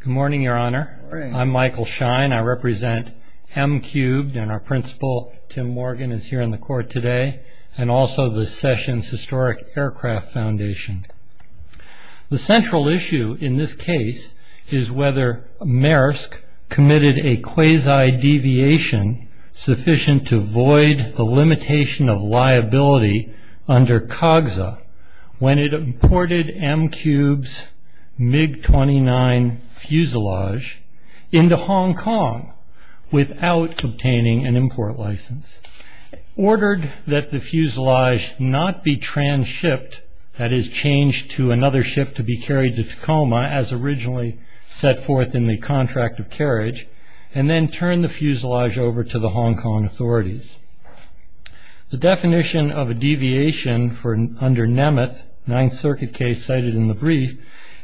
Good morning, Your Honor. I'm Michael Schein. I represent M-Cubed and our principal Tim Morgan is here in the court today and also the Sessions Historic Aircraft Foundation. The central issue in this case is whether Maersk committed a quasi-deviation sufficient to void the limitation of liability under COGSA when it imported M-Cubed's MiG-29 fuselage into Hong Kong without obtaining an import license, ordered that the fuselage not be trans-shipped, that is changed to another ship to be carried to Tacoma as originally set forth in the contract of carriage, and then turned the fuselage over to the Hong Kong authorities. The definition of a deviation under Nemeth, Ninth Circuit case cited in the brief,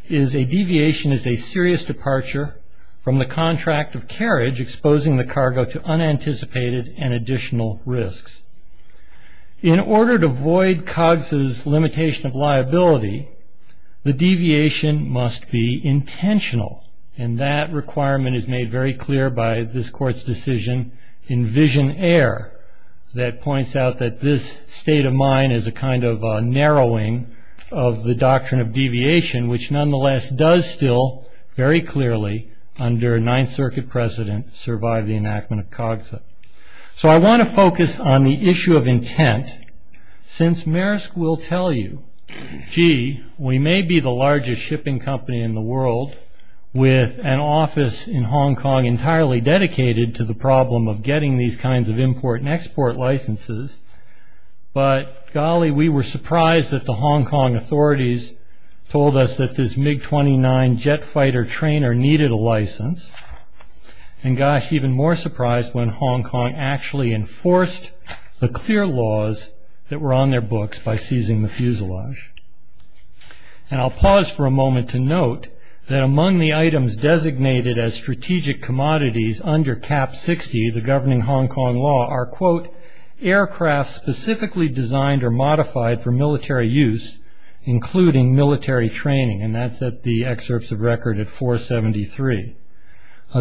is a deviation is a serious departure from the contract of carriage exposing the cargo to unanticipated and additional risks. In order to void COGSA's limitation of liability, the deviation must be intentional and that requirement is made very clear by this court's decision in Vision Air that points out that this state of mind is a kind of narrowing of the doctrine of deviation which nonetheless does still very clearly under Ninth Circuit precedent survive the enactment of COGSA. So I want to focus on the issue of intent since Maersk will tell you, gee, we may be the largest shipping company in the world with an office in Hong Kong entirely dedicated to the problem of getting these kinds of import and export licenses, but golly we were surprised that the Hong Kong authorities told us that this MiG-29 jet fighter trainer needed a license, and gosh even more surprised when Hong Kong actually enforced the clear laws that were on their books by seizing the fuselage. And I'll pause for a moment to note that among the items designated as strategic commodities under CAP-60, the governing Hong Kong law, are quote, aircraft specifically designed or modified for military use including military training, and that's at the excerpts of record at 473.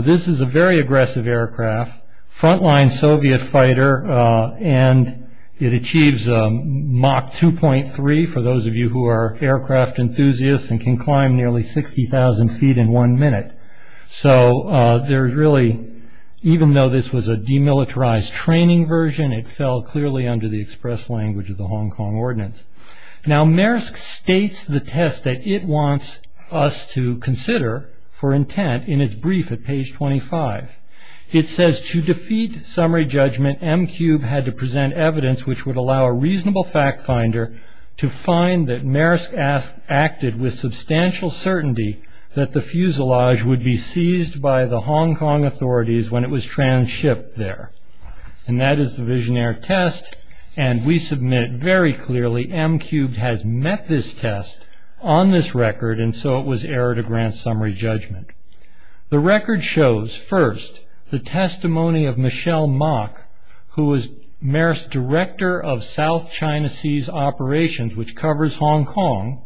This is a very aggressive aircraft, front-line Soviet fighter, and it achieves Mach 2.3 for those of you who are aircraft enthusiasts and can climb nearly 60,000 feet in one minute. So there's really, even though this was a demilitarized training version, it fell clearly under the express language of the Hong Kong ordinance. Now Maersk states the test that it wants us to consider for intent in its brief at page 25. It says, to defeat summary judgment, MQ had to present evidence which would allow a reasonable fact finder to find that Maersk acted with substantial certainty that the fuselage would be seized by the Hong Kong authorities when it was trans-shipped there. And that is the visionary test, and we submit very clearly MQ has met this test on this record, and so it was error to grant summary judgment. The record shows, first, the testimony of Michelle Mok, who was Maersk's director of South China Sea's operations, which covers Hong Kong.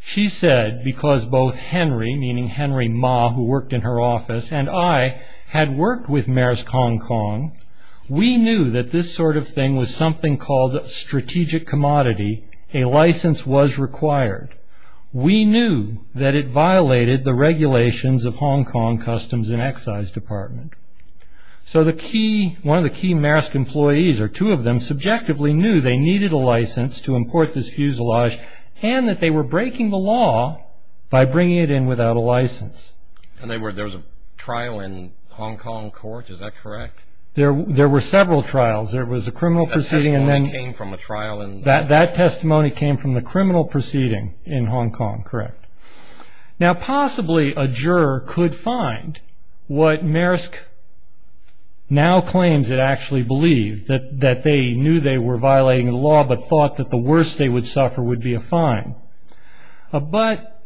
She said, because both Henry, meaning Henry Ma, who worked in her office, and I had worked with Maersk Hong Kong, we knew that this sort of thing was something called a strategic commodity. A license was required. We knew that it violated the regulations of Hong Kong Customs and Excise Department. So the key, one of the key Maersk employees, or two of them, subjectively knew they needed a license to import this fuselage, and that they were breaking the law by bringing it in without a license. And there was a trial in Hong Kong court, is that correct? There were several trials. There was a criminal proceeding, and that testimony came from the criminal proceeding in Hong Kong, correct. Now possibly a juror could find what Maersk now claims it actually believed, that they knew they were violating the law, but thought that the worst they would suffer would be a fine. But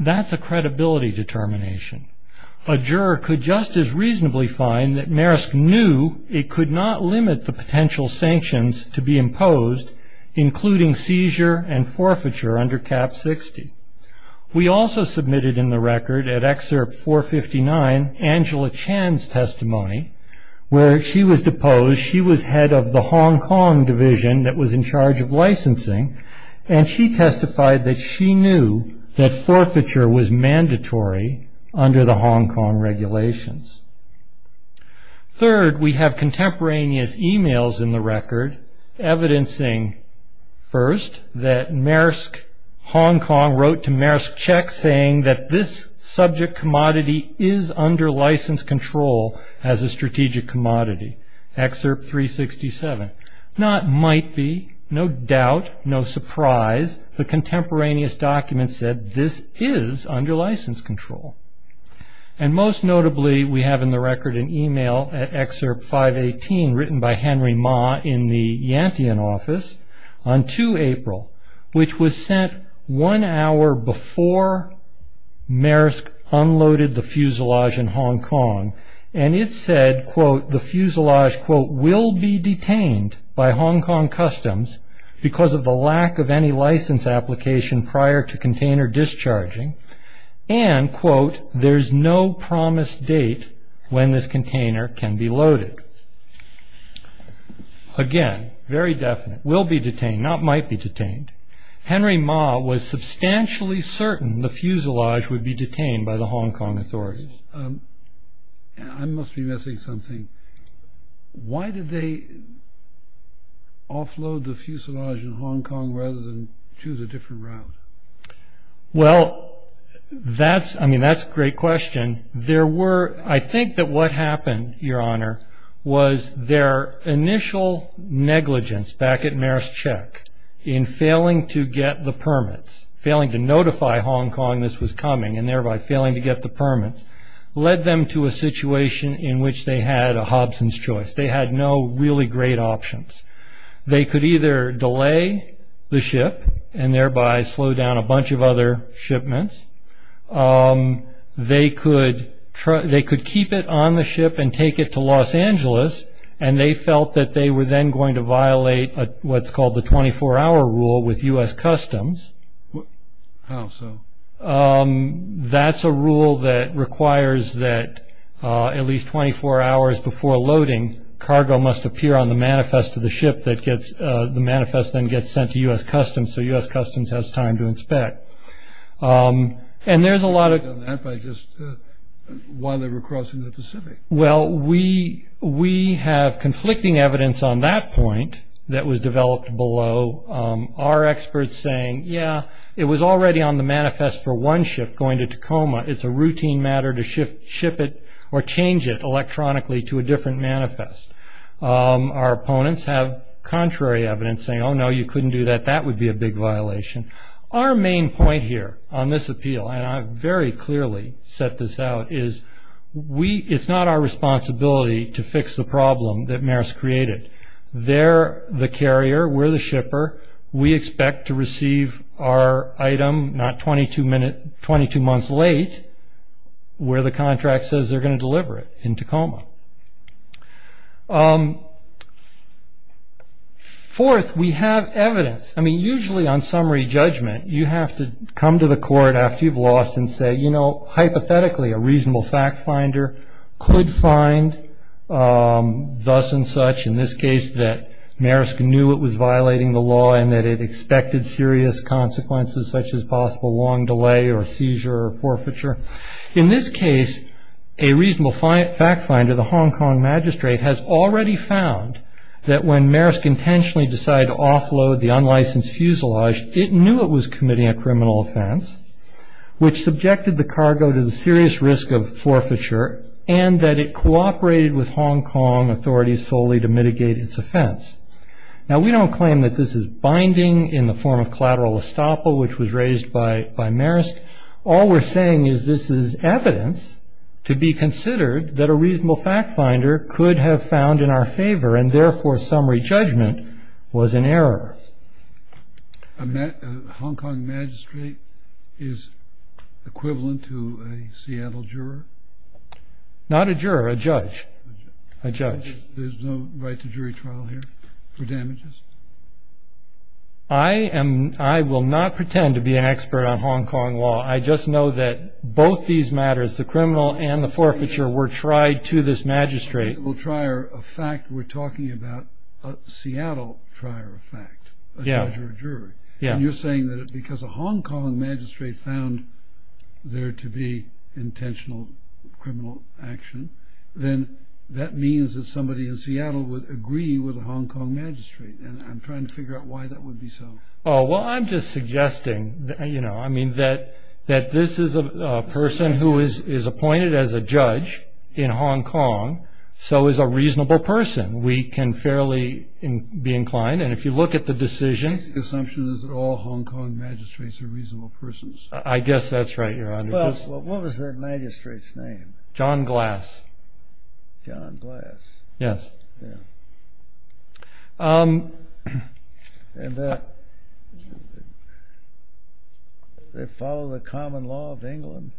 that's a credibility determination. A juror could just as reasonably find that Maersk knew it could not limit the potential sanctions to be imposed, including seizure and forfeiture under Cap 60. We also submitted in the record at Excerpt 459 Angela Chan's testimony, where she was deposed. She was head of the Hong Kong division that was in charge of licensing, and she testified that she knew that forfeiture was mandatory under the Hong Kong regulations. Third, we have contemporaneous emails in the record, evidencing first that Maersk Hong Kong wrote to Maersk Czech saying that this subject commodity is under license control as a strategic commodity, Excerpt 367. Now it might be, no doubt, no surprise, the contemporaneous document said this is under license control. And most notably, we have in the record an email at Excerpt 518, written by Henry Ma in the Yantian office, on 2 April, which was sent one hour before Maersk unloaded the fuselage in Hong Kong. And it said, quote, the fuselage, quote, will be detained by Hong Kong customs because of the lack of any license application prior to container discharging. And, quote, there's no promised date when this container can be loaded. Again, very definite, will be detained, not might be detained. Henry Ma was substantially certain the fuselage would be detained by the Hong Kong authorities. I must be missing something. Why did they offload the fuselage in Hong Kong rather than choose a different route? Well, that's, I mean, that's a great question. There were, I think that what happened, Your Honor, was their initial negligence back at Maersk Check in failing to get the permits, failing to notify Hong Kong this was coming, and thereby failing to get the permits, led them to a situation in which they had a Hobson's choice. They had no really great options. They could either delay the ship and thereby slow down a bunch of other shipments. They could keep it on the ship and take it to Los Angeles, and they felt that they were then going to violate what's called the 24-hour rule with U.S. Customs. That's a rule that requires that at least 24 hours before loading, cargo must appear on the manifest of the ship that gets, the manifest then gets sent to U.S. Customs, so U.S. Customs has time to inspect. And there's a lot of... Why they were crossing the Pacific? Well, we have conflicting evidence on that point that was developed below. Our experts saying, yeah, it was already on the manifest for one ship going to Tacoma. It's a routine matter to ship it or change it electronically to a different manifest. Our opponents have contrary evidence saying, oh no, you couldn't do that. That would be a big violation. Our main point here on this appeal, and I've very clearly set this out, is we, it's not our responsibility to fix the problem that Marist created. They're the carrier. We're the shipper. We expect to receive our item not 22 minutes, 22 months late, where the contract says they're going to ship it. Fourth, we have evidence. I mean, usually on summary judgment, you have to come to the court after you've lost and say, you know, hypothetically, a reasonable fact finder could find thus and such, in this case that Marist knew it was violating the law and that it expected serious consequences such as possible long delay or seizure or forfeiture. In this case, a reasonable fact finder, the Hong Kong magistrate, has already found that when Marist intentionally decided to offload the unlicensed fuselage, it knew it was committing a criminal offense, which subjected the cargo to the serious risk of forfeiture and that it cooperated with Hong Kong authorities solely to mitigate its offense. Now, we don't claim that this is binding in the form of collateral estoppel, which was raised by Marist. All we're saying is this is evidence to be considered that a reasonable fact finder could have found in our favor and, therefore, summary judgment was an error. Hong Kong magistrate is equivalent to a Seattle juror? Not a juror, a judge. A judge. There's no right to jury trial here for damages? I am, I will not pretend to be an expert on Hong Kong law. I just know that both these matters, the criminal and the forfeiture, were tried to this magistrate. A reasonable trier of fact, we're talking about a Seattle trier of fact, a judge or a jury. And you're saying that because a Hong Kong magistrate found there to be intentional criminal action, then that means that somebody in Seattle would agree with a Hong Kong magistrate. And I'm trying to figure out why that would be so. Oh, well, I'm just suggesting, you know, I mean, that this is a person who is appointed as a judge in Hong Kong, so is a reasonable person. We can fairly be inclined. And if you look at the decision... The basic assumption is that all Hong Kong magistrates are reasonable persons. I guess that's right, Your Honor. Well, what was that magistrate's name? John Glass. John Glass. Yes. And they follow the common law of England?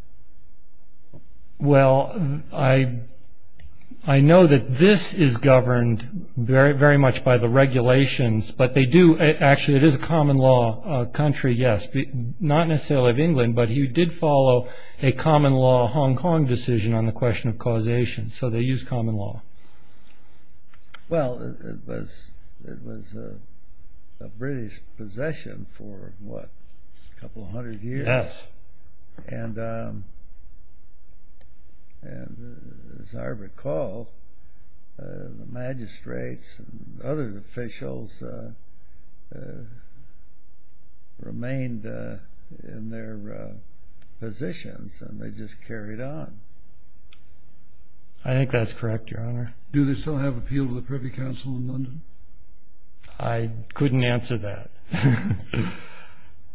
Well, I know that this is governed very, very much by the regulations, but they do. Actually, it is a common law country, yes, but not necessarily of England. But you did follow a common law Hong Kong decision on the question of causation. So they use common law. Well, it was a British possession for, what, a couple of hundred years? Yes. And as I recall, the magistrates and other officials remained in their positions and they just carried on. I think that's correct, Your Honor. Do they still have appeal to the Privy Council in London? I couldn't answer that.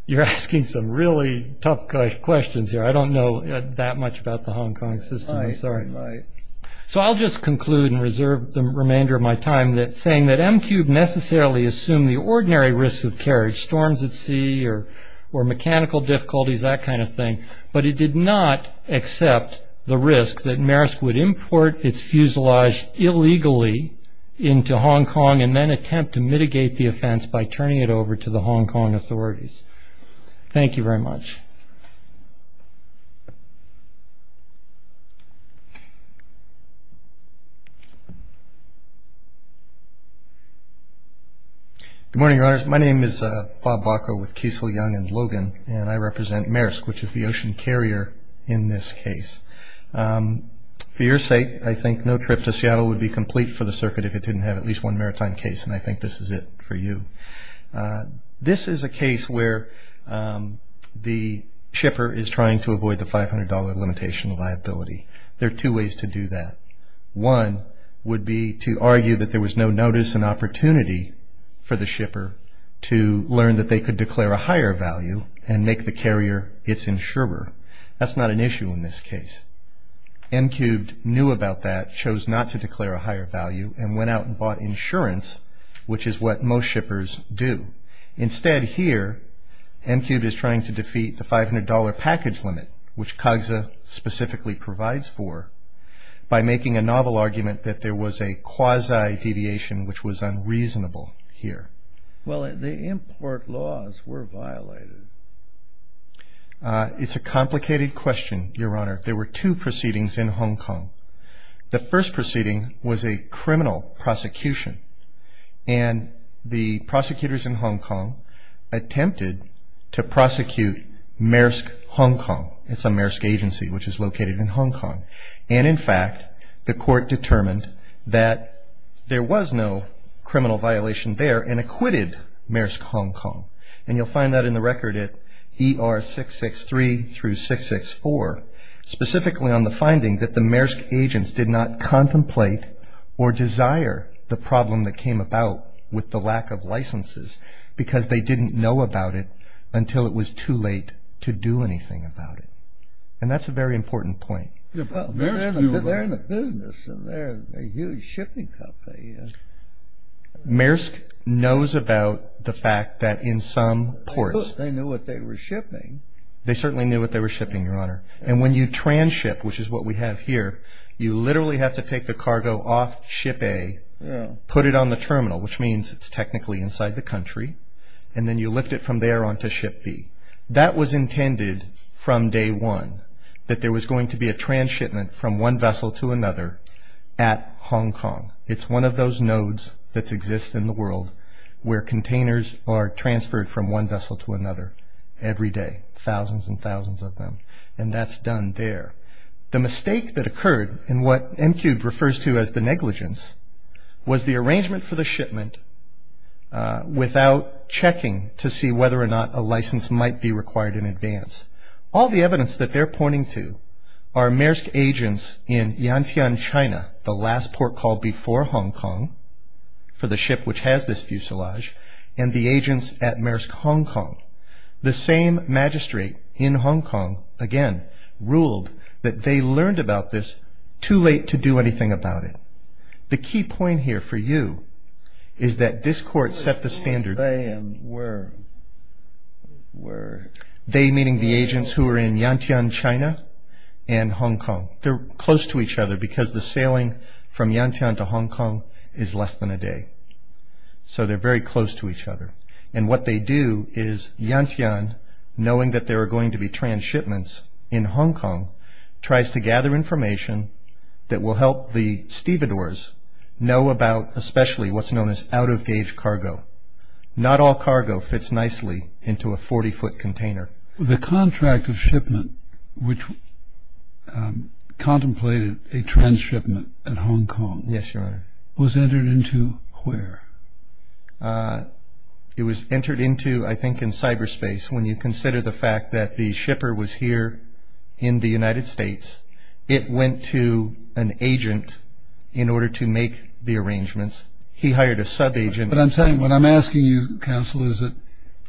You're asking some really tough questions here. I don't know that much about the Hong Kong system. I'm sorry. So I'll just conclude and reserve the remainder of my time saying that MQ necessarily assumed the ordinary risk of carriage storms at sea or mechanical difficulties, that kind of thing. But it did not accept the risk that Maersk would import its fuselage illegally into Hong Kong and then attempt to mitigate the offense by turning it over to the Hong Kong authorities. Thank you very much. My name is Bob Bacow with Kiesel, Young & Logan, and I represent Maersk, which is the ocean carrier in this case. For your sake, I think no trip to Seattle would be complete for the circuit if it didn't have at least one maritime case. And I think this is it for you. This is a case where the shipper is trying to avoid the $500 limitation liability. There are two ways to do that. One would be to argue that there was no notice and opportunity for the shipper to learn that they could declare a higher value and make the carrier its insurer. That's not an issue in this case. MQ knew about that, chose not to declare a higher value, and went out and bought insurance, which is what most shippers do. Instead here, MQ is trying to defeat the $500 package limit, which CAGSA specifically provides for, by making a novel argument that there was a quasi-deviation, which was unreasonable here. Well, the import laws were violated. It's a complicated question, Your Honor. There were two proceedings in Hong Kong. The first proceeding was a criminal prosecution. And the prosecutors in Hong Kong attempted to prosecute Maersk, Hong Kong. It's a Maersk agency, which is located in Hong Kong. And in fact, the court determined that there was no criminal violation there and acquitted Maersk, Hong Kong. And you'll find that in the record at ER663 through 664, specifically on the finding that the Maersk agents did not contemplate or desire the problem that came about with the lack of licenses, because they didn't know about it until it was too late to do anything about it. And that's a very important point. They're in the business, and they're a huge shipping company. Maersk knows about the fact that in some ports... They knew what they were shipping. They certainly knew what they were shipping, Your Honor. And when you tranship, which is what we have here, you literally have to take the cargo off ship A. Put it on the terminal, which means it's technically inside the country. And then you lift it from there on to ship B. That was intended from day one, that there was going to be a transhipment from one vessel to another at Hong Kong. It's one of those nodes that exists in the world where containers are transferred from one vessel to another every day. Thousands and thousands of them. And that's done there. The mistake that occurred, and what MQ refers to as the negligence, was the arrangement for the shipment without checking to see whether or not a license might be required in advance. All the evidence that they're pointing to are Maersk agents in Yantian, China, the last port called before Hong Kong for the ship which has this fuselage, and the agents at Maersk, Hong Kong. The same magistrate in Hong Kong, again, ruled that they learned about this too late to do anything about it. The key point here for you is that this court set the standard. They, meaning the agents who are in Yantian, China, and Hong Kong. They're close to each other because the sailing from Yantian to Hong Kong is less than a day. So they're very close to each other. And what they do is Yantian, knowing that there are going to be transshipments in Hong Kong, tries to gather information that will help the stevedores know about especially what's known as out of gauge cargo. Not all cargo fits nicely into a 40 foot container. The contract of shipment, which contemplated a transshipment at Hong Kong, was entered into where? It was entered into, I think, in cyberspace. When you consider the fact that the shipper was here in the United States, it went to an agent in order to make the arrangements. He hired a sub-agent. But I'm saying what I'm asking you, counsel, is that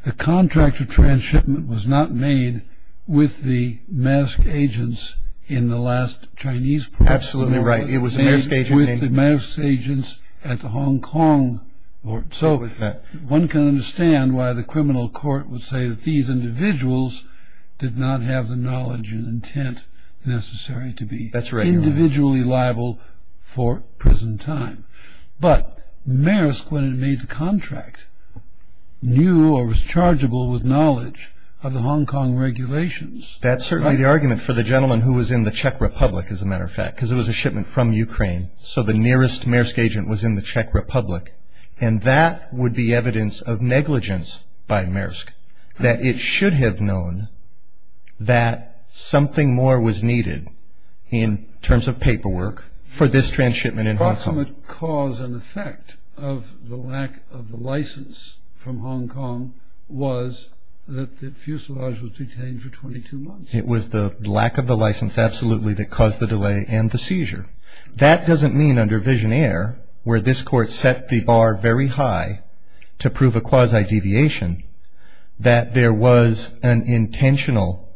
the contract of transshipment was not made with the Maersk agents in the last Chinese port. Absolutely right. It was the Maersk agents at Hong Kong. So one can understand why the criminal court would say that these individuals did not have the knowledge and intent necessary to be individually liable for prison time. But Maersk, when it made the contract, knew or was chargeable with knowledge of the Hong Kong regulations. That's certainly the argument for the gentleman who was in the Czech Republic, as a matter of fact, because it was a shipment from Ukraine. So the nearest Maersk agent was in the Czech Republic. And that would be evidence of negligence by Maersk, that it should have known that something more was needed in terms of paperwork for this transshipment in Hong Kong. The ultimate cause and effect of the lack of the license from Hong Kong was that the fuselage was detained for 22 months. It was the lack of the license, absolutely, that caused the delay and the seizure. That doesn't mean under visionaire, where this court set the bar very high to prove a quasi-deviation, that there was an intentional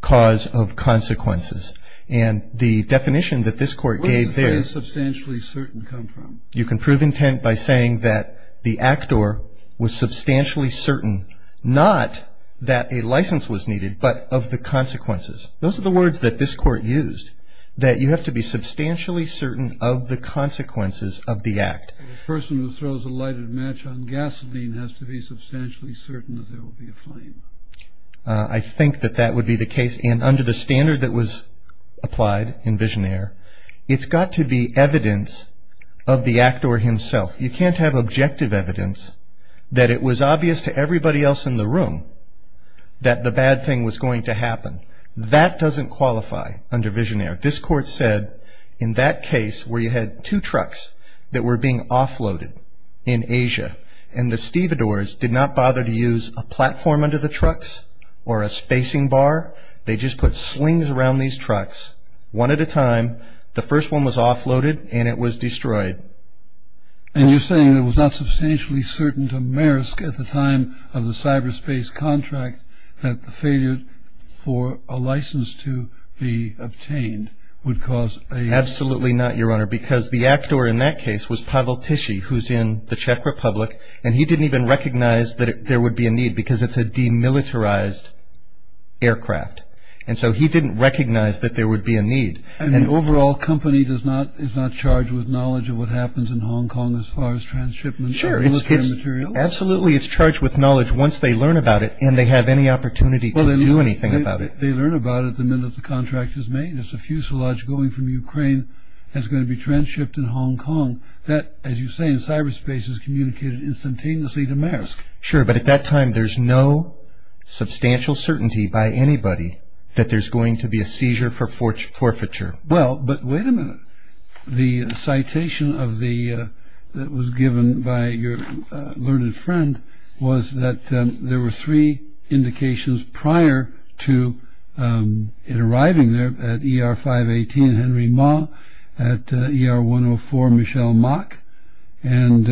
cause of consequences. And the definition that this court gave there is substantially certain. You can prove intent by saying that the actor was substantially certain, not that a license was needed, but of the consequences. Those are the words that this court used, that you have to be substantially certain of the consequences of the act. A person who throws a lighted match on gasoline has to be substantially certain that there will be a flame. I think that that would be the case. And under the standard that was applied in visionaire, it's got to be evidence of the actor himself. You can't have objective evidence that it was obvious to everybody else in the room that the bad thing was going to happen. That doesn't qualify under visionaire. This court said in that case where you had two trucks that were being offloaded in Asia and the stevedores did not bother to use a platform under the trucks or a spacing bar. They just put slings around these trucks one at a time. The first one was offloaded and it was destroyed. And you're saying it was not substantially certain to Maersk at the time of the cyberspace contract that the failure for a license to be obtained would cause a. Absolutely not, Your Honor, because the actor in that case was Pavel Tishy, who's in the Czech Republic. And he didn't even recognize that there would be a need because it's a demilitarized aircraft. And so he didn't recognize that there would be a need. And the overall company is not charged with knowledge of what happens in Hong Kong as far as transshipment of military material? Absolutely, it's charged with knowledge once they learn about it and they have any opportunity to do anything about it. They learn about it the minute the contract is made. It's a fuselage going from Ukraine that's going to be transshipped in Hong Kong. That, as you say, in cyberspace is communicated instantaneously to Maersk. Sure, but at that time, there's no substantial certainty by anybody that there's going to be a seizure for forfeiture. Well, but wait a minute. The citation that was given by your learned friend was that there were three indications prior to it arriving there at ER-518, Henry Ma, at ER-104, Michelle Mach, and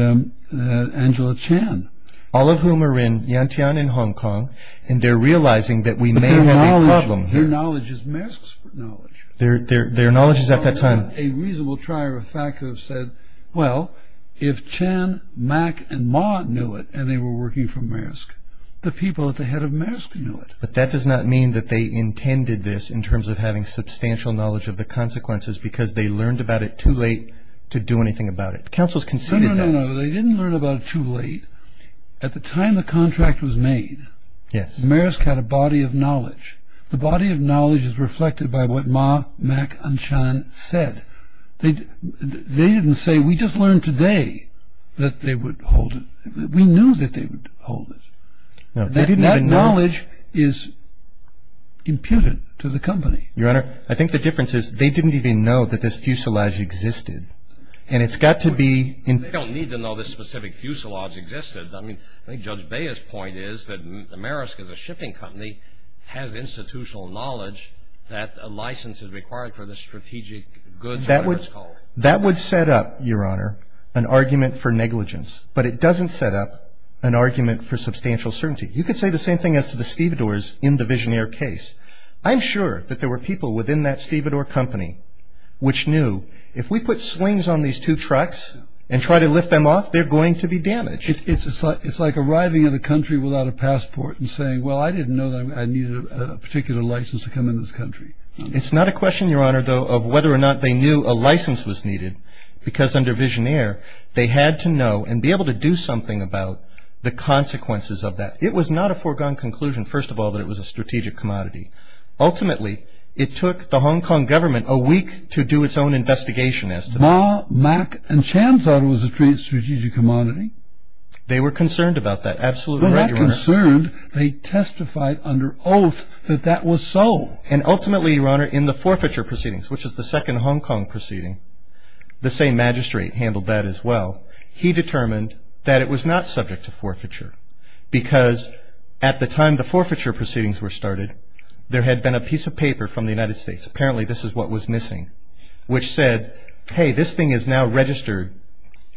Angela Chan. All of whom are in Yantian in Hong Kong. And they're realizing that we may have a problem. Their knowledge is Maersk's knowledge. Their knowledge is at that time. A reasonable trier of fact have said, well, if Chan, Mach, and Ma knew it and they were working for Maersk, the people at the head of Maersk knew it. But that does not mean that they intended this in terms of having substantial knowledge of the consequences because they learned about it too late to do anything about it. Counsel's conceded they didn't learn about it too late. At the time the contract was made, Maersk had a body of knowledge. The body of knowledge is reflected by what Ma, Mach, and Chan said. They didn't say, we just learned today that they would hold it. We knew that they would hold it. That knowledge is imputed to the company. Your Honor, I think the difference is they didn't even know that this fuselage existed. And it's got to be. And they don't need to know this specific fuselage existed. I mean, I think Judge Baya's point is that Maersk is a shipping company, has institutional knowledge that a license is required for the strategic goods, whatever it's called. That would set up, Your Honor, an argument for negligence. But it doesn't set up an argument for substantial certainty. You could say the same thing as to the stevedores in the Visionaire case. I'm sure that there were people within that stevedore company which knew, if we put swings on these two trucks and try to lift them off, they're going to be damaged. It's like arriving in a country without a passport and saying, well, I didn't know that I needed a particular license to come in this country. It's not a question, Your Honor, though, of whether or not they knew a license was needed. Because under Visionaire, they had to know and be able to do something about the consequences of that. It was not a foregone conclusion, first of all, that it was a strategic commodity. Ultimately, it took the Hong Kong government a week to do its own investigation as to that. Ma, Mac, and Chan thought it was a strategic commodity. They were concerned about that. Absolutely right, Your Honor. They were not concerned. They testified under oath that that was so. And ultimately, Your Honor, in the forfeiture proceedings, which is the second Hong Kong proceeding, the same magistrate handled that as well. He determined that it was not subject to forfeiture. Because at the time the forfeiture proceedings were started, there had been a piece of paper from the United States. Apparently, this is what was missing, which said, hey, this thing is now registered,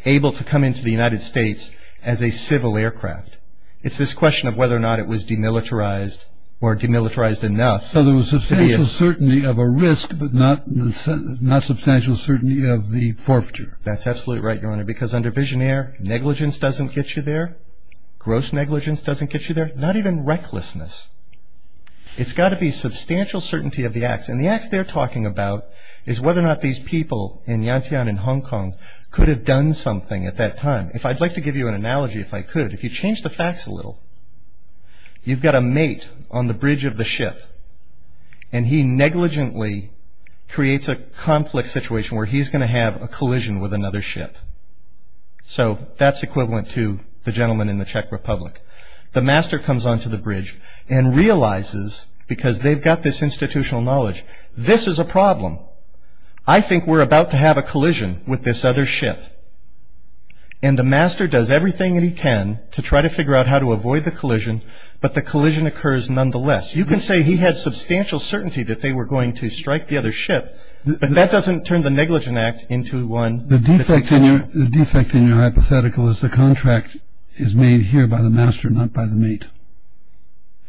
able to come into the United States as a civil aircraft. It's this question of whether or not it was demilitarized or demilitarized enough. So there was substantial certainty of a risk, but not substantial certainty of the forfeiture. That's absolutely right, Your Honor, because under Visionaire, negligence doesn't get you there. Gross negligence doesn't get you there. Not even recklessness. It's got to be substantial certainty of the acts. And the acts they're talking about is whether or not these people in Yantian and Hong Kong could have done something at that time. If I'd like to give you an analogy, if I could, if you change the facts a little, you've got a mate on the bridge of the ship. And he negligently creates a conflict situation where he's going to have a collision with another ship. So that's equivalent to the gentleman in the Czech Republic. The master comes onto the bridge and realizes, because they've got this institutional knowledge, this is a problem. I think we're about to have a collision with this other ship. And the master does everything that he can to try to figure out how to avoid the collision, but the collision occurs nonetheless. You can say he had substantial certainty that they were going to strike the other ship, but that doesn't turn the negligent act into one. The defect in your hypothetical is the contract is made here by the master, not by the mate.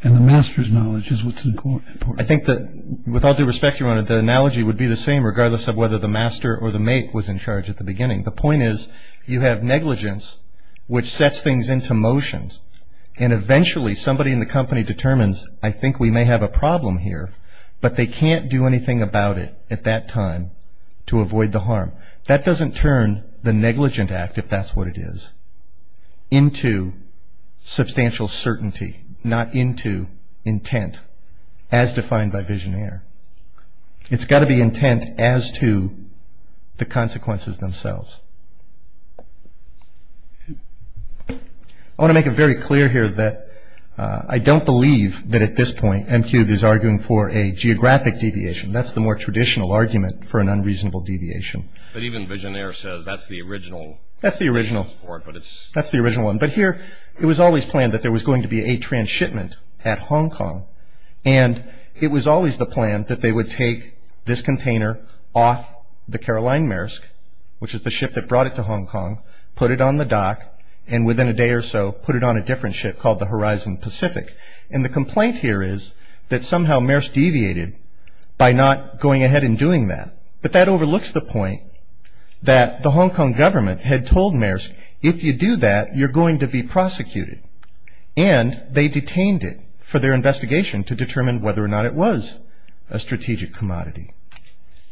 And the master's knowledge is what's important. I think that, with all due respect, Your Honor, the analogy would be the same regardless of whether the master or the mate was in charge at the beginning. The point is, you have negligence, which sets things into motion, and eventually somebody in the company determines, I think we may have a problem here, but they can't do anything about it at that time to avoid the harm. That doesn't turn the negligent act, if that's what it is, into substantial certainty, not into intent as defined by visionaire. It's got to be intent as to the consequences themselves. I want to make it very clear here that I don't believe that, at this point, M3 is arguing for a geographic deviation. That's the more traditional argument for an unreasonable deviation. But even visionaire says that's the original. That's the original one. But here, it was always planned that there was going to be a transshipment at Hong Kong. And it was always the plan that they would take this container off the Caroline Maersk, which is the ship that brought it to Hong Kong, put it on the dock, and within a day or so, put it on a different ship called the Horizon Pacific. And the complaint here is that somehow Maersk deviated by not going ahead and doing that. But that overlooks the point that the Hong Kong government had told Maersk, if you do that, you're going to be prosecuted. And they detained it for their investigation to determine whether or not it was a strategic commodity.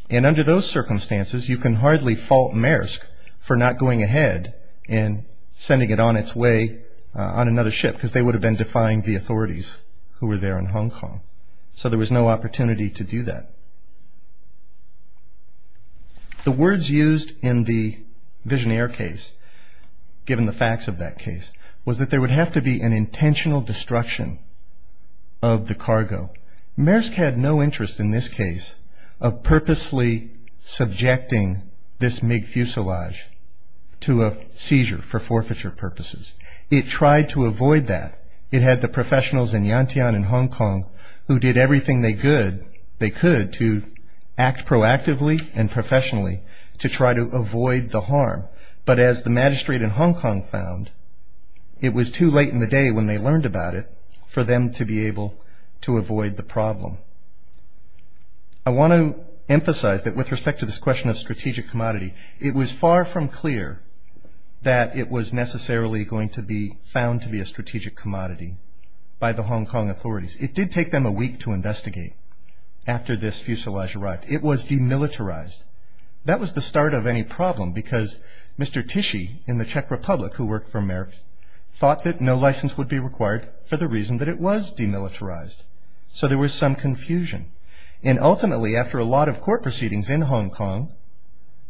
And under those circumstances, you can hardly fault Maersk for not going ahead and sending it on its way on another ship, because they would have been defying the authorities who were there in Hong Kong. So there was no opportunity to do that. The words used in the Visionaire case, given the facts of that case, was that there would have to be an intentional destruction of the cargo. Maersk had no interest in this case of purposely subjecting this MiG fuselage to a seizure for forfeiture purposes. It tried to avoid that. It had the professionals in Yantian in Hong Kong who did everything they could to act proactively and professionally to try to avoid the harm. But as the magistrate in Hong Kong found, it was too late in the day when they learned about it for them to be able to avoid the problem. I want to emphasize that with respect to this question of strategic commodity, it was far from clear that it was necessarily going to be found to be a strategic commodity by the Hong Kong authorities. It did take them a week to investigate after this fuselage arrived. It was demilitarized. That was the start of any problem, because Mr. Tichy in the Czech Republic, who worked for Maersk, thought that no license would be required for the reason that it was demilitarized. So there was some confusion. And ultimately, after a lot of court proceedings in Hong Kong,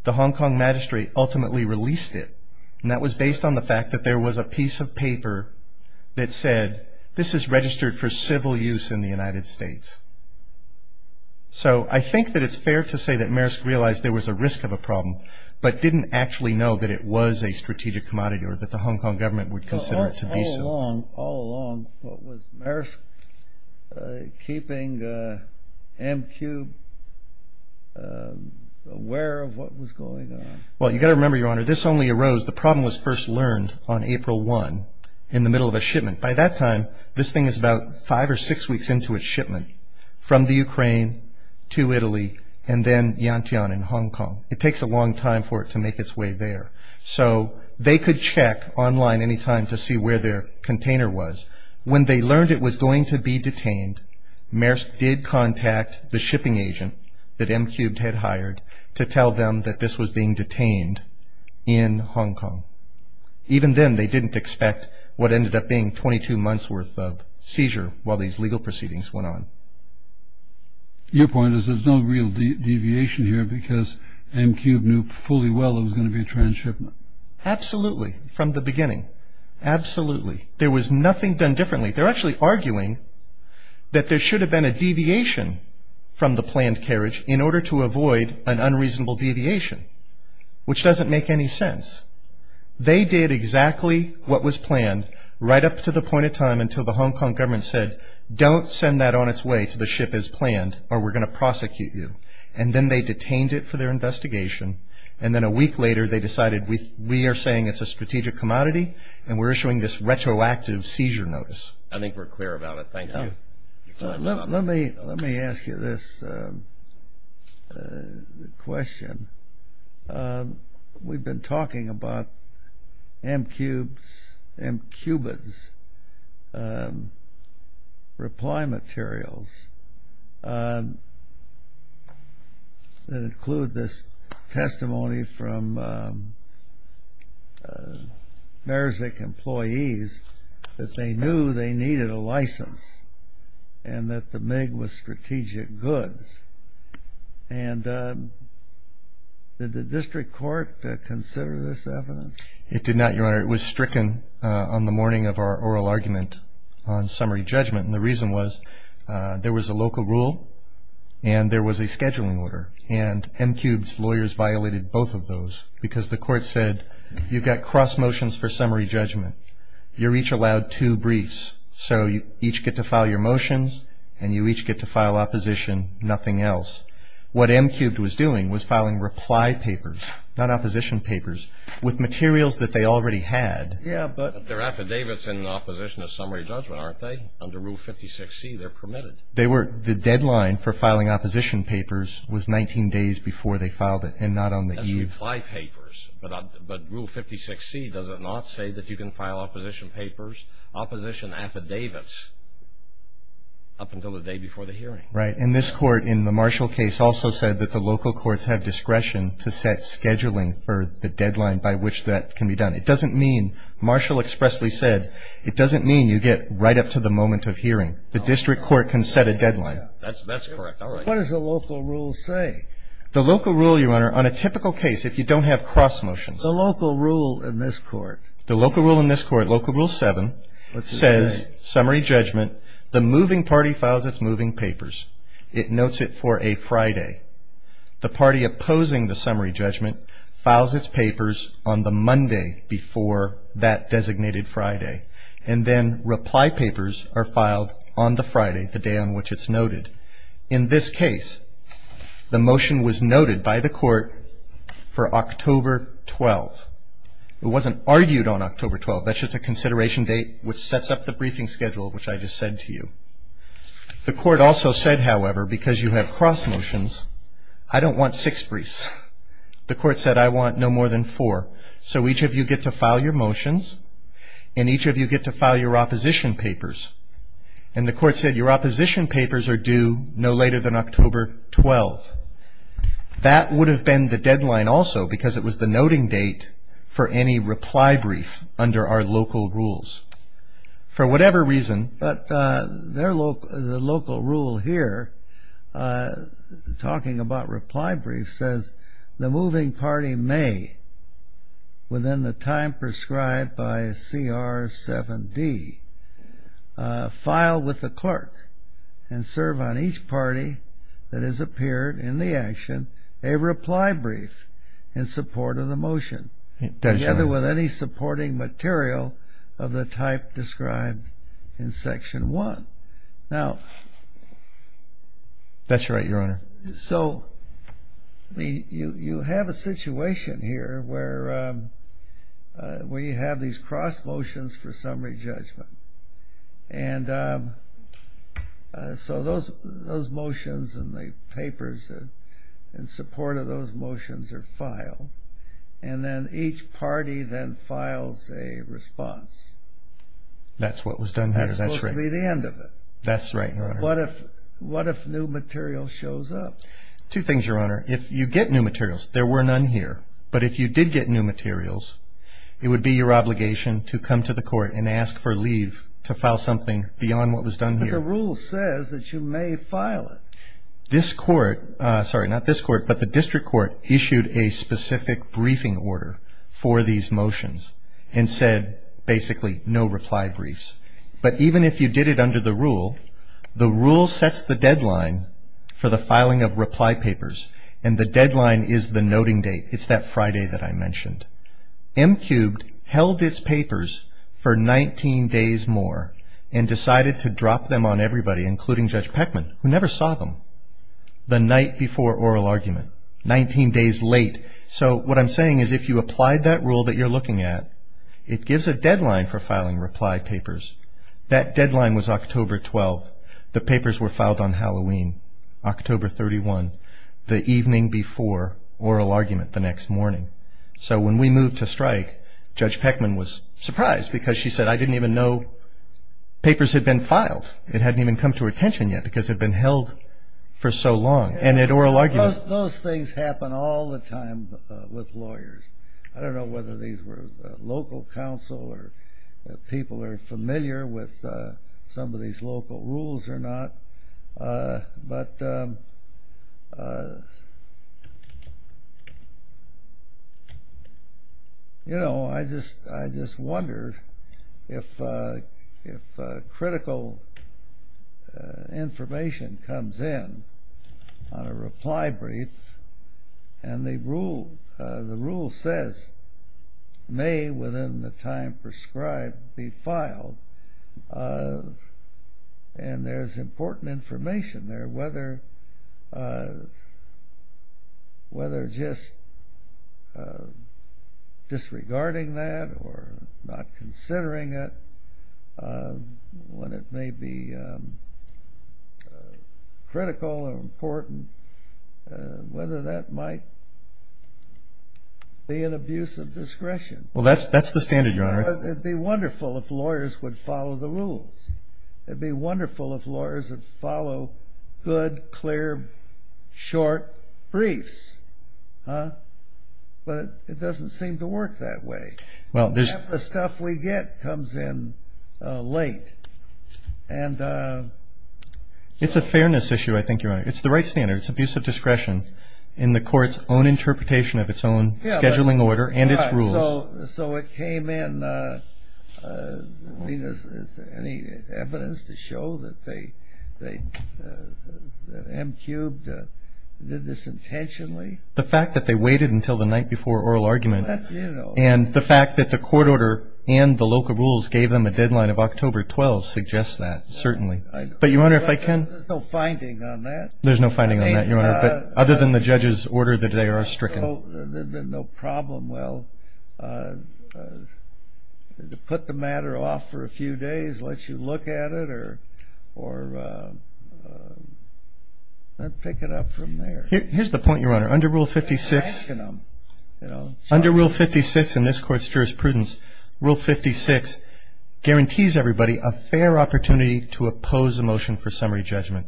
the Hong Kong magistrate ultimately released it. And that was based on the fact that there was a piece of paper that said, this is registered for civil use in the United States. So I think that it's fair to say that Maersk realized there was a risk of a problem, but didn't actually know that it was a strategic commodity or that the Hong Kong government would consider it to be so. All along, was Maersk keeping Amcube aware of what was going on? Well, you've got to remember, Your Honor, this only arose, the problem was first learned on April 1, in the middle of a shipment. By that time, this thing is about five or six weeks into its shipment from the Ukraine to Italy and then Yantian in Hong Kong. It takes a long time for it to make its way there. So they could check online anytime to see where their container was. When they learned it was going to be detained, Maersk did contact the shipping agent that Amcube had hired to tell them that this was being detained in Hong Kong. Even then, they didn't expect what ended up being 22 months worth of seizure while these legal proceedings went on. Your point is there's no real deviation here because Amcube knew fully well it was going to be a trans-shipment. Absolutely, from the beginning. Absolutely. There was nothing done differently. They're actually arguing that there should have been a deviation from the planned carriage in order to avoid an unreasonable deviation, which doesn't make any sense. They did exactly what was planned right up to the point in time until the Hong Kong government said, don't send that on its way to the ship as planned or we're going to prosecute you. And then they detained it for their investigation. And then a week later, they decided we are saying it's a strategic commodity and we're issuing this retroactive seizure notice. I think we're clear about it. Thank you. Let me ask you this question. We've been talking about Amcube's reply materials that include this testimony from Merzick employees that they knew they needed a license and that the MiG was strategic goods. And did the district court consider this evidence? It did not, Your Honor. It was stricken on the morning of our oral argument on summary judgment. And the reason was there was a local rule and there was a scheduling order. And Amcube's lawyers violated both of those because the court said you've got cross motions for summary judgment. You're each allowed two briefs. So you each get to file your motions and you each get to file opposition, nothing else. What Amcube was doing was filing reply papers, not opposition papers, with materials that they already had. Yeah, but their affidavits in opposition to summary judgment, aren't they? Under Rule 56C, they're permitted. They were. The deadline for filing opposition papers was 19 days before they filed it and not on the eve. That's reply papers. But Rule 56C, does it not say that you can file opposition papers? Opposition affidavits up until the day before the hearing. Right. And this court, in the Marshall case, also said that the local courts have discretion to set scheduling for the deadline by which that can be done. It doesn't mean, Marshall expressly said, it doesn't mean you get right up to the moment of hearing. The district court can set a deadline. That's correct. All right. What does the local rule say? The local rule, Your Honor, on a typical case, if you don't have cross motions. The local rule in this court? The local rule in this court, Local Rule 7, says, summary judgment, the moving party files its moving papers. It notes it for a Friday. The party opposing the summary judgment files its papers on the Monday before that designated Friday. And then reply papers are filed on the Friday, the day on which it's noted. In this case, the motion was noted by the court for October 12. It wasn't argued on October 12. That's just a consideration date, which sets up the briefing schedule, which I just said to you. The court also said, however, because you have cross motions, I don't want six briefs. The court said, I want no more than four. So each of you get to file your motions, and each of you get to file your opposition papers. And the court said, your opposition papers are due no later than October 12. That would have been the deadline also, because it was the noting date for any reply brief under our local rules. For whatever reason. But the local rule here, talking about reply briefs, says, the moving party may, within the time prescribed by CR 7D, file with the clerk and serve on each party that has appeared in the action, a reply brief in support of the motion. Together with any supporting material of the type described in Section 1. Now. That's right, Your Honor. So you have a situation here where we have these cross motions for summary judgment. And so those motions and the papers in support of those motions are filed. And then each party then files a response. That's what was done here. That's supposed to be the end of it. That's right, Your Honor. What if new material shows up? Two things, Your Honor. If you get new materials, there were none here. But if you did get new materials, it would be your obligation to come to the court and ask for leave to file something beyond what was done here. But the rule says that you may file it. This court, sorry, not this court, but the district court issued a specific briefing order for these motions and said basically no reply briefs. But even if you did it under the rule, the rule sets the deadline for the filing of reply papers. And the deadline is the noting date. It's that Friday that I mentioned. M-cubed held its papers for 19 days more and decided to drop them on everybody, including Judge Peckman, who never saw them, the night before oral argument, 19 days late. So what I'm saying is if you applied that rule that you're looking at, it gives a deadline for filing reply papers. That deadline was October 12. The papers were filed on Halloween, October 31, the evening before oral argument the next morning. So when we moved to strike, Judge Peckman was surprised because she said I didn't even know papers had been filed. It hadn't even come to her attention yet because it had been held for so long. And at oral argument. Those things happen all the time with lawyers. I don't know whether these were local counsel or people are familiar with some of these local rules or not. But, you know, I just wondered if critical information comes in on a reply brief and the rule says may within the time prescribed be filed. And there's important information there, whether just disregarding that or not considering it when it may be critical or important, whether that might be an abuse of discretion. Well, that's the standard, Your Honor. It'd be wonderful if lawyers would follow the rules. It'd be wonderful if lawyers would follow good, clear, short briefs. But it doesn't seem to work that way. Well, the stuff we get comes in late. And it's a fairness issue, I think, Your Honor. It's the right standard. It's abuse of discretion in the court's own interpretation of its own scheduling order and its rules. So it came in. I mean, is there any evidence to show that they, that MQ did this intentionally? The fact that they waited until the night before oral argument and the fact that the court order and the local rules gave them a deadline of October 12 suggests that, certainly. But, Your Honor, if I can. There's no finding on that. There's no finding on that, Your Honor, other than the judge's order that they are stricken. There's no problem. Well, to put the matter off for a few days, let you look at it or pick it up from there. Here's the point, Your Honor. Under Rule 56, under Rule 56 in this court's jurisprudence, Rule 56 guarantees everybody a fair opportunity to oppose a motion for summary judgment.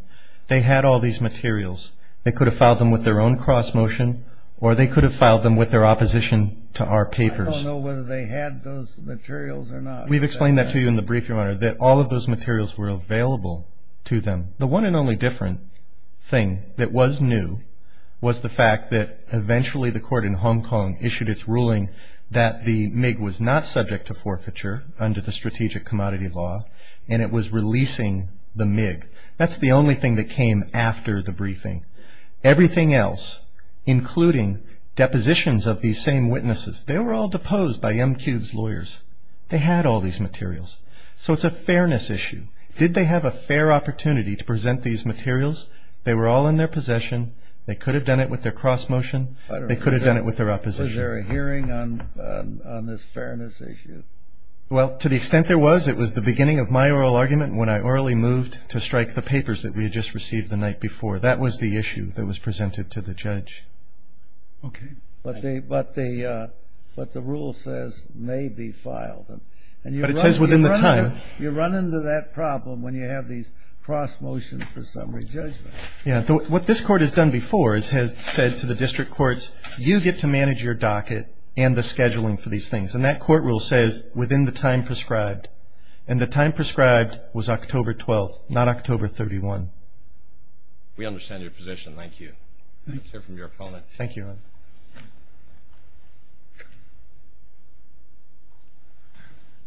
They had all these materials. They could have filed them with their own cross motion or they could have filed them with their opposition to our papers. I don't know whether they had those materials or not. We've explained that to you in the brief, Your Honor, that all of those materials were available to them. The one and only different thing that was new was the fact that eventually the court in Hong Kong issued its ruling that the MIG was not subject to forfeiture under the strategic commodity law and it was releasing the MIG. That's the only thing that came after the briefing. Everything else, including depositions of these same witnesses, they were all deposed by MQ's lawyers. They had all these materials. So it's a fairness issue. Did they have a fair opportunity to present these materials? They were all in their possession. They could have done it with their cross motion. They could have done it with their opposition. Was there a hearing on this fairness issue? Well, to the extent there was, it was the beginning of my oral argument when I orally moved to strike the papers that we had just received the night before. That was the issue that was presented to the judge. Okay. But the rule says may be filed. But it says within the time. You run into that problem when you have these cross motions for summary judgment. Yeah. What this court has done before is has said to the district courts, you get to manage your docket and the scheduling for these things. And that court rule says within the time prescribed. And the time prescribed was October 12th. Not October 31. We understand your position. Thank you. Let's hear from your opponent. Thank you.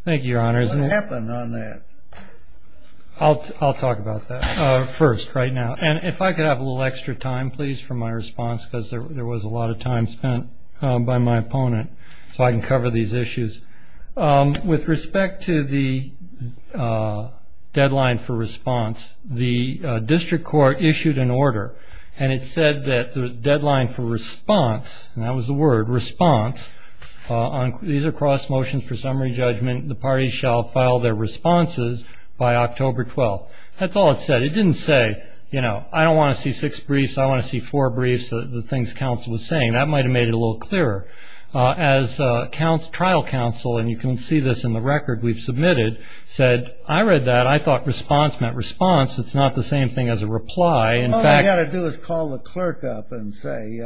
Thank you, Your Honors. What happened on that? I'll talk about that first right now. And if I could have a little extra time, please, for my response. Because there was a lot of time spent by my opponent. So I can cover these issues. With respect to the deadline for response, the district court issued an order. And it said that the deadline for response, and that was the word, response. These are cross motions for summary judgment. The parties shall file their responses by October 12th. That's all it said. It didn't say, you know, I don't want to see six briefs. I want to see four briefs, the things counsel was saying. That might have made it a little clearer. As trial counsel, and you can see this in the record we've submitted, said, I read that. I thought response meant response. It's not the same thing as a reply. In fact. All you got to do is call the clerk up and say,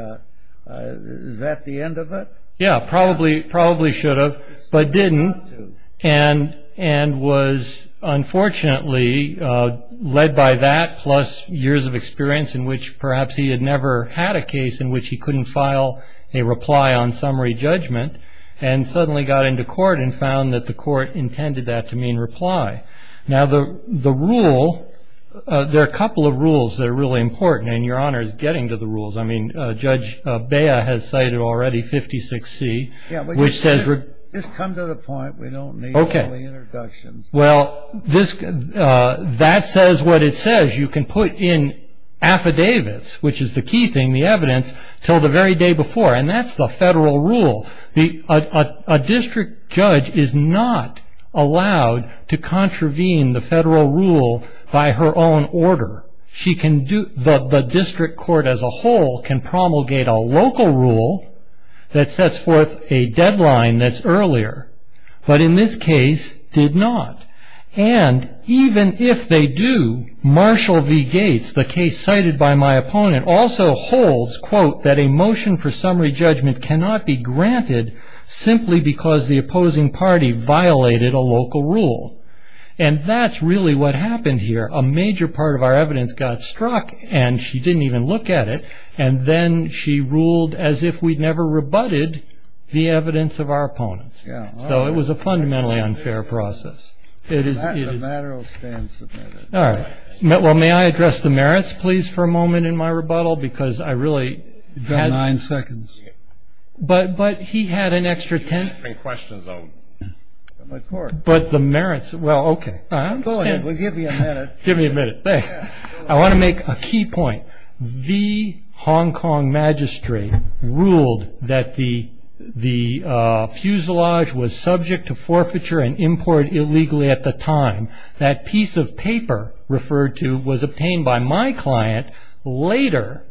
is that the end of it? Yeah, probably should have. But didn't. And was unfortunately led by that, plus years of experience in which perhaps he had never had a case in which he couldn't file a reply on summary judgment. And suddenly got into court and found that the court intended that to mean reply. Now the rule, there are a couple of rules that are really important. And your Honor is getting to the rules. I mean, Judge Bea has cited already 56C, which says. Just come to the point. We don't need all the introductions. Well, that says what it says. You can put in affidavits, which is the key thing, the evidence, till the very day before. And that's the federal rule. A district judge is not allowed to contravene the federal rule by her own order. She can do, the district court as a whole can promulgate a local rule that sets forth a deadline that's earlier. But in this case, did not. And even if they do, Marshall V. Gates, the case cited by my opponent, also holds, quote, that a motion for summary judgment cannot be granted simply because the opposing party violated a local rule. And that's really what happened here. A major part of our evidence got struck, and she didn't even look at it. And then she ruled as if we'd never rebutted the evidence of our opponents. So it was a fundamentally unfair process. It is, it is. The matter will stand submitted. All right. Well, may I address the merits, please, for a moment in my rebuttal? Because I really had. You've got nine seconds. But, but he had an extra 10. You're answering questions, though. Of course. But the merits, well, okay. Go ahead. Well, give me a minute. Give me a minute. Thanks. I want to make a key point. The Hong Kong magistrate ruled that the, the fuselage was subject to forfeiture and import illegally at the time. That piece of paper referred to was obtained by my client later,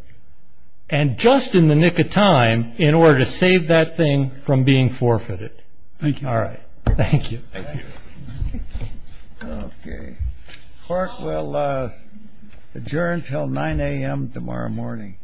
and just in the nick of time, in order to save that thing from being forfeited. Thank you. All right. Thank you. Okay. Court will adjourn until 9 a.m. tomorrow morning.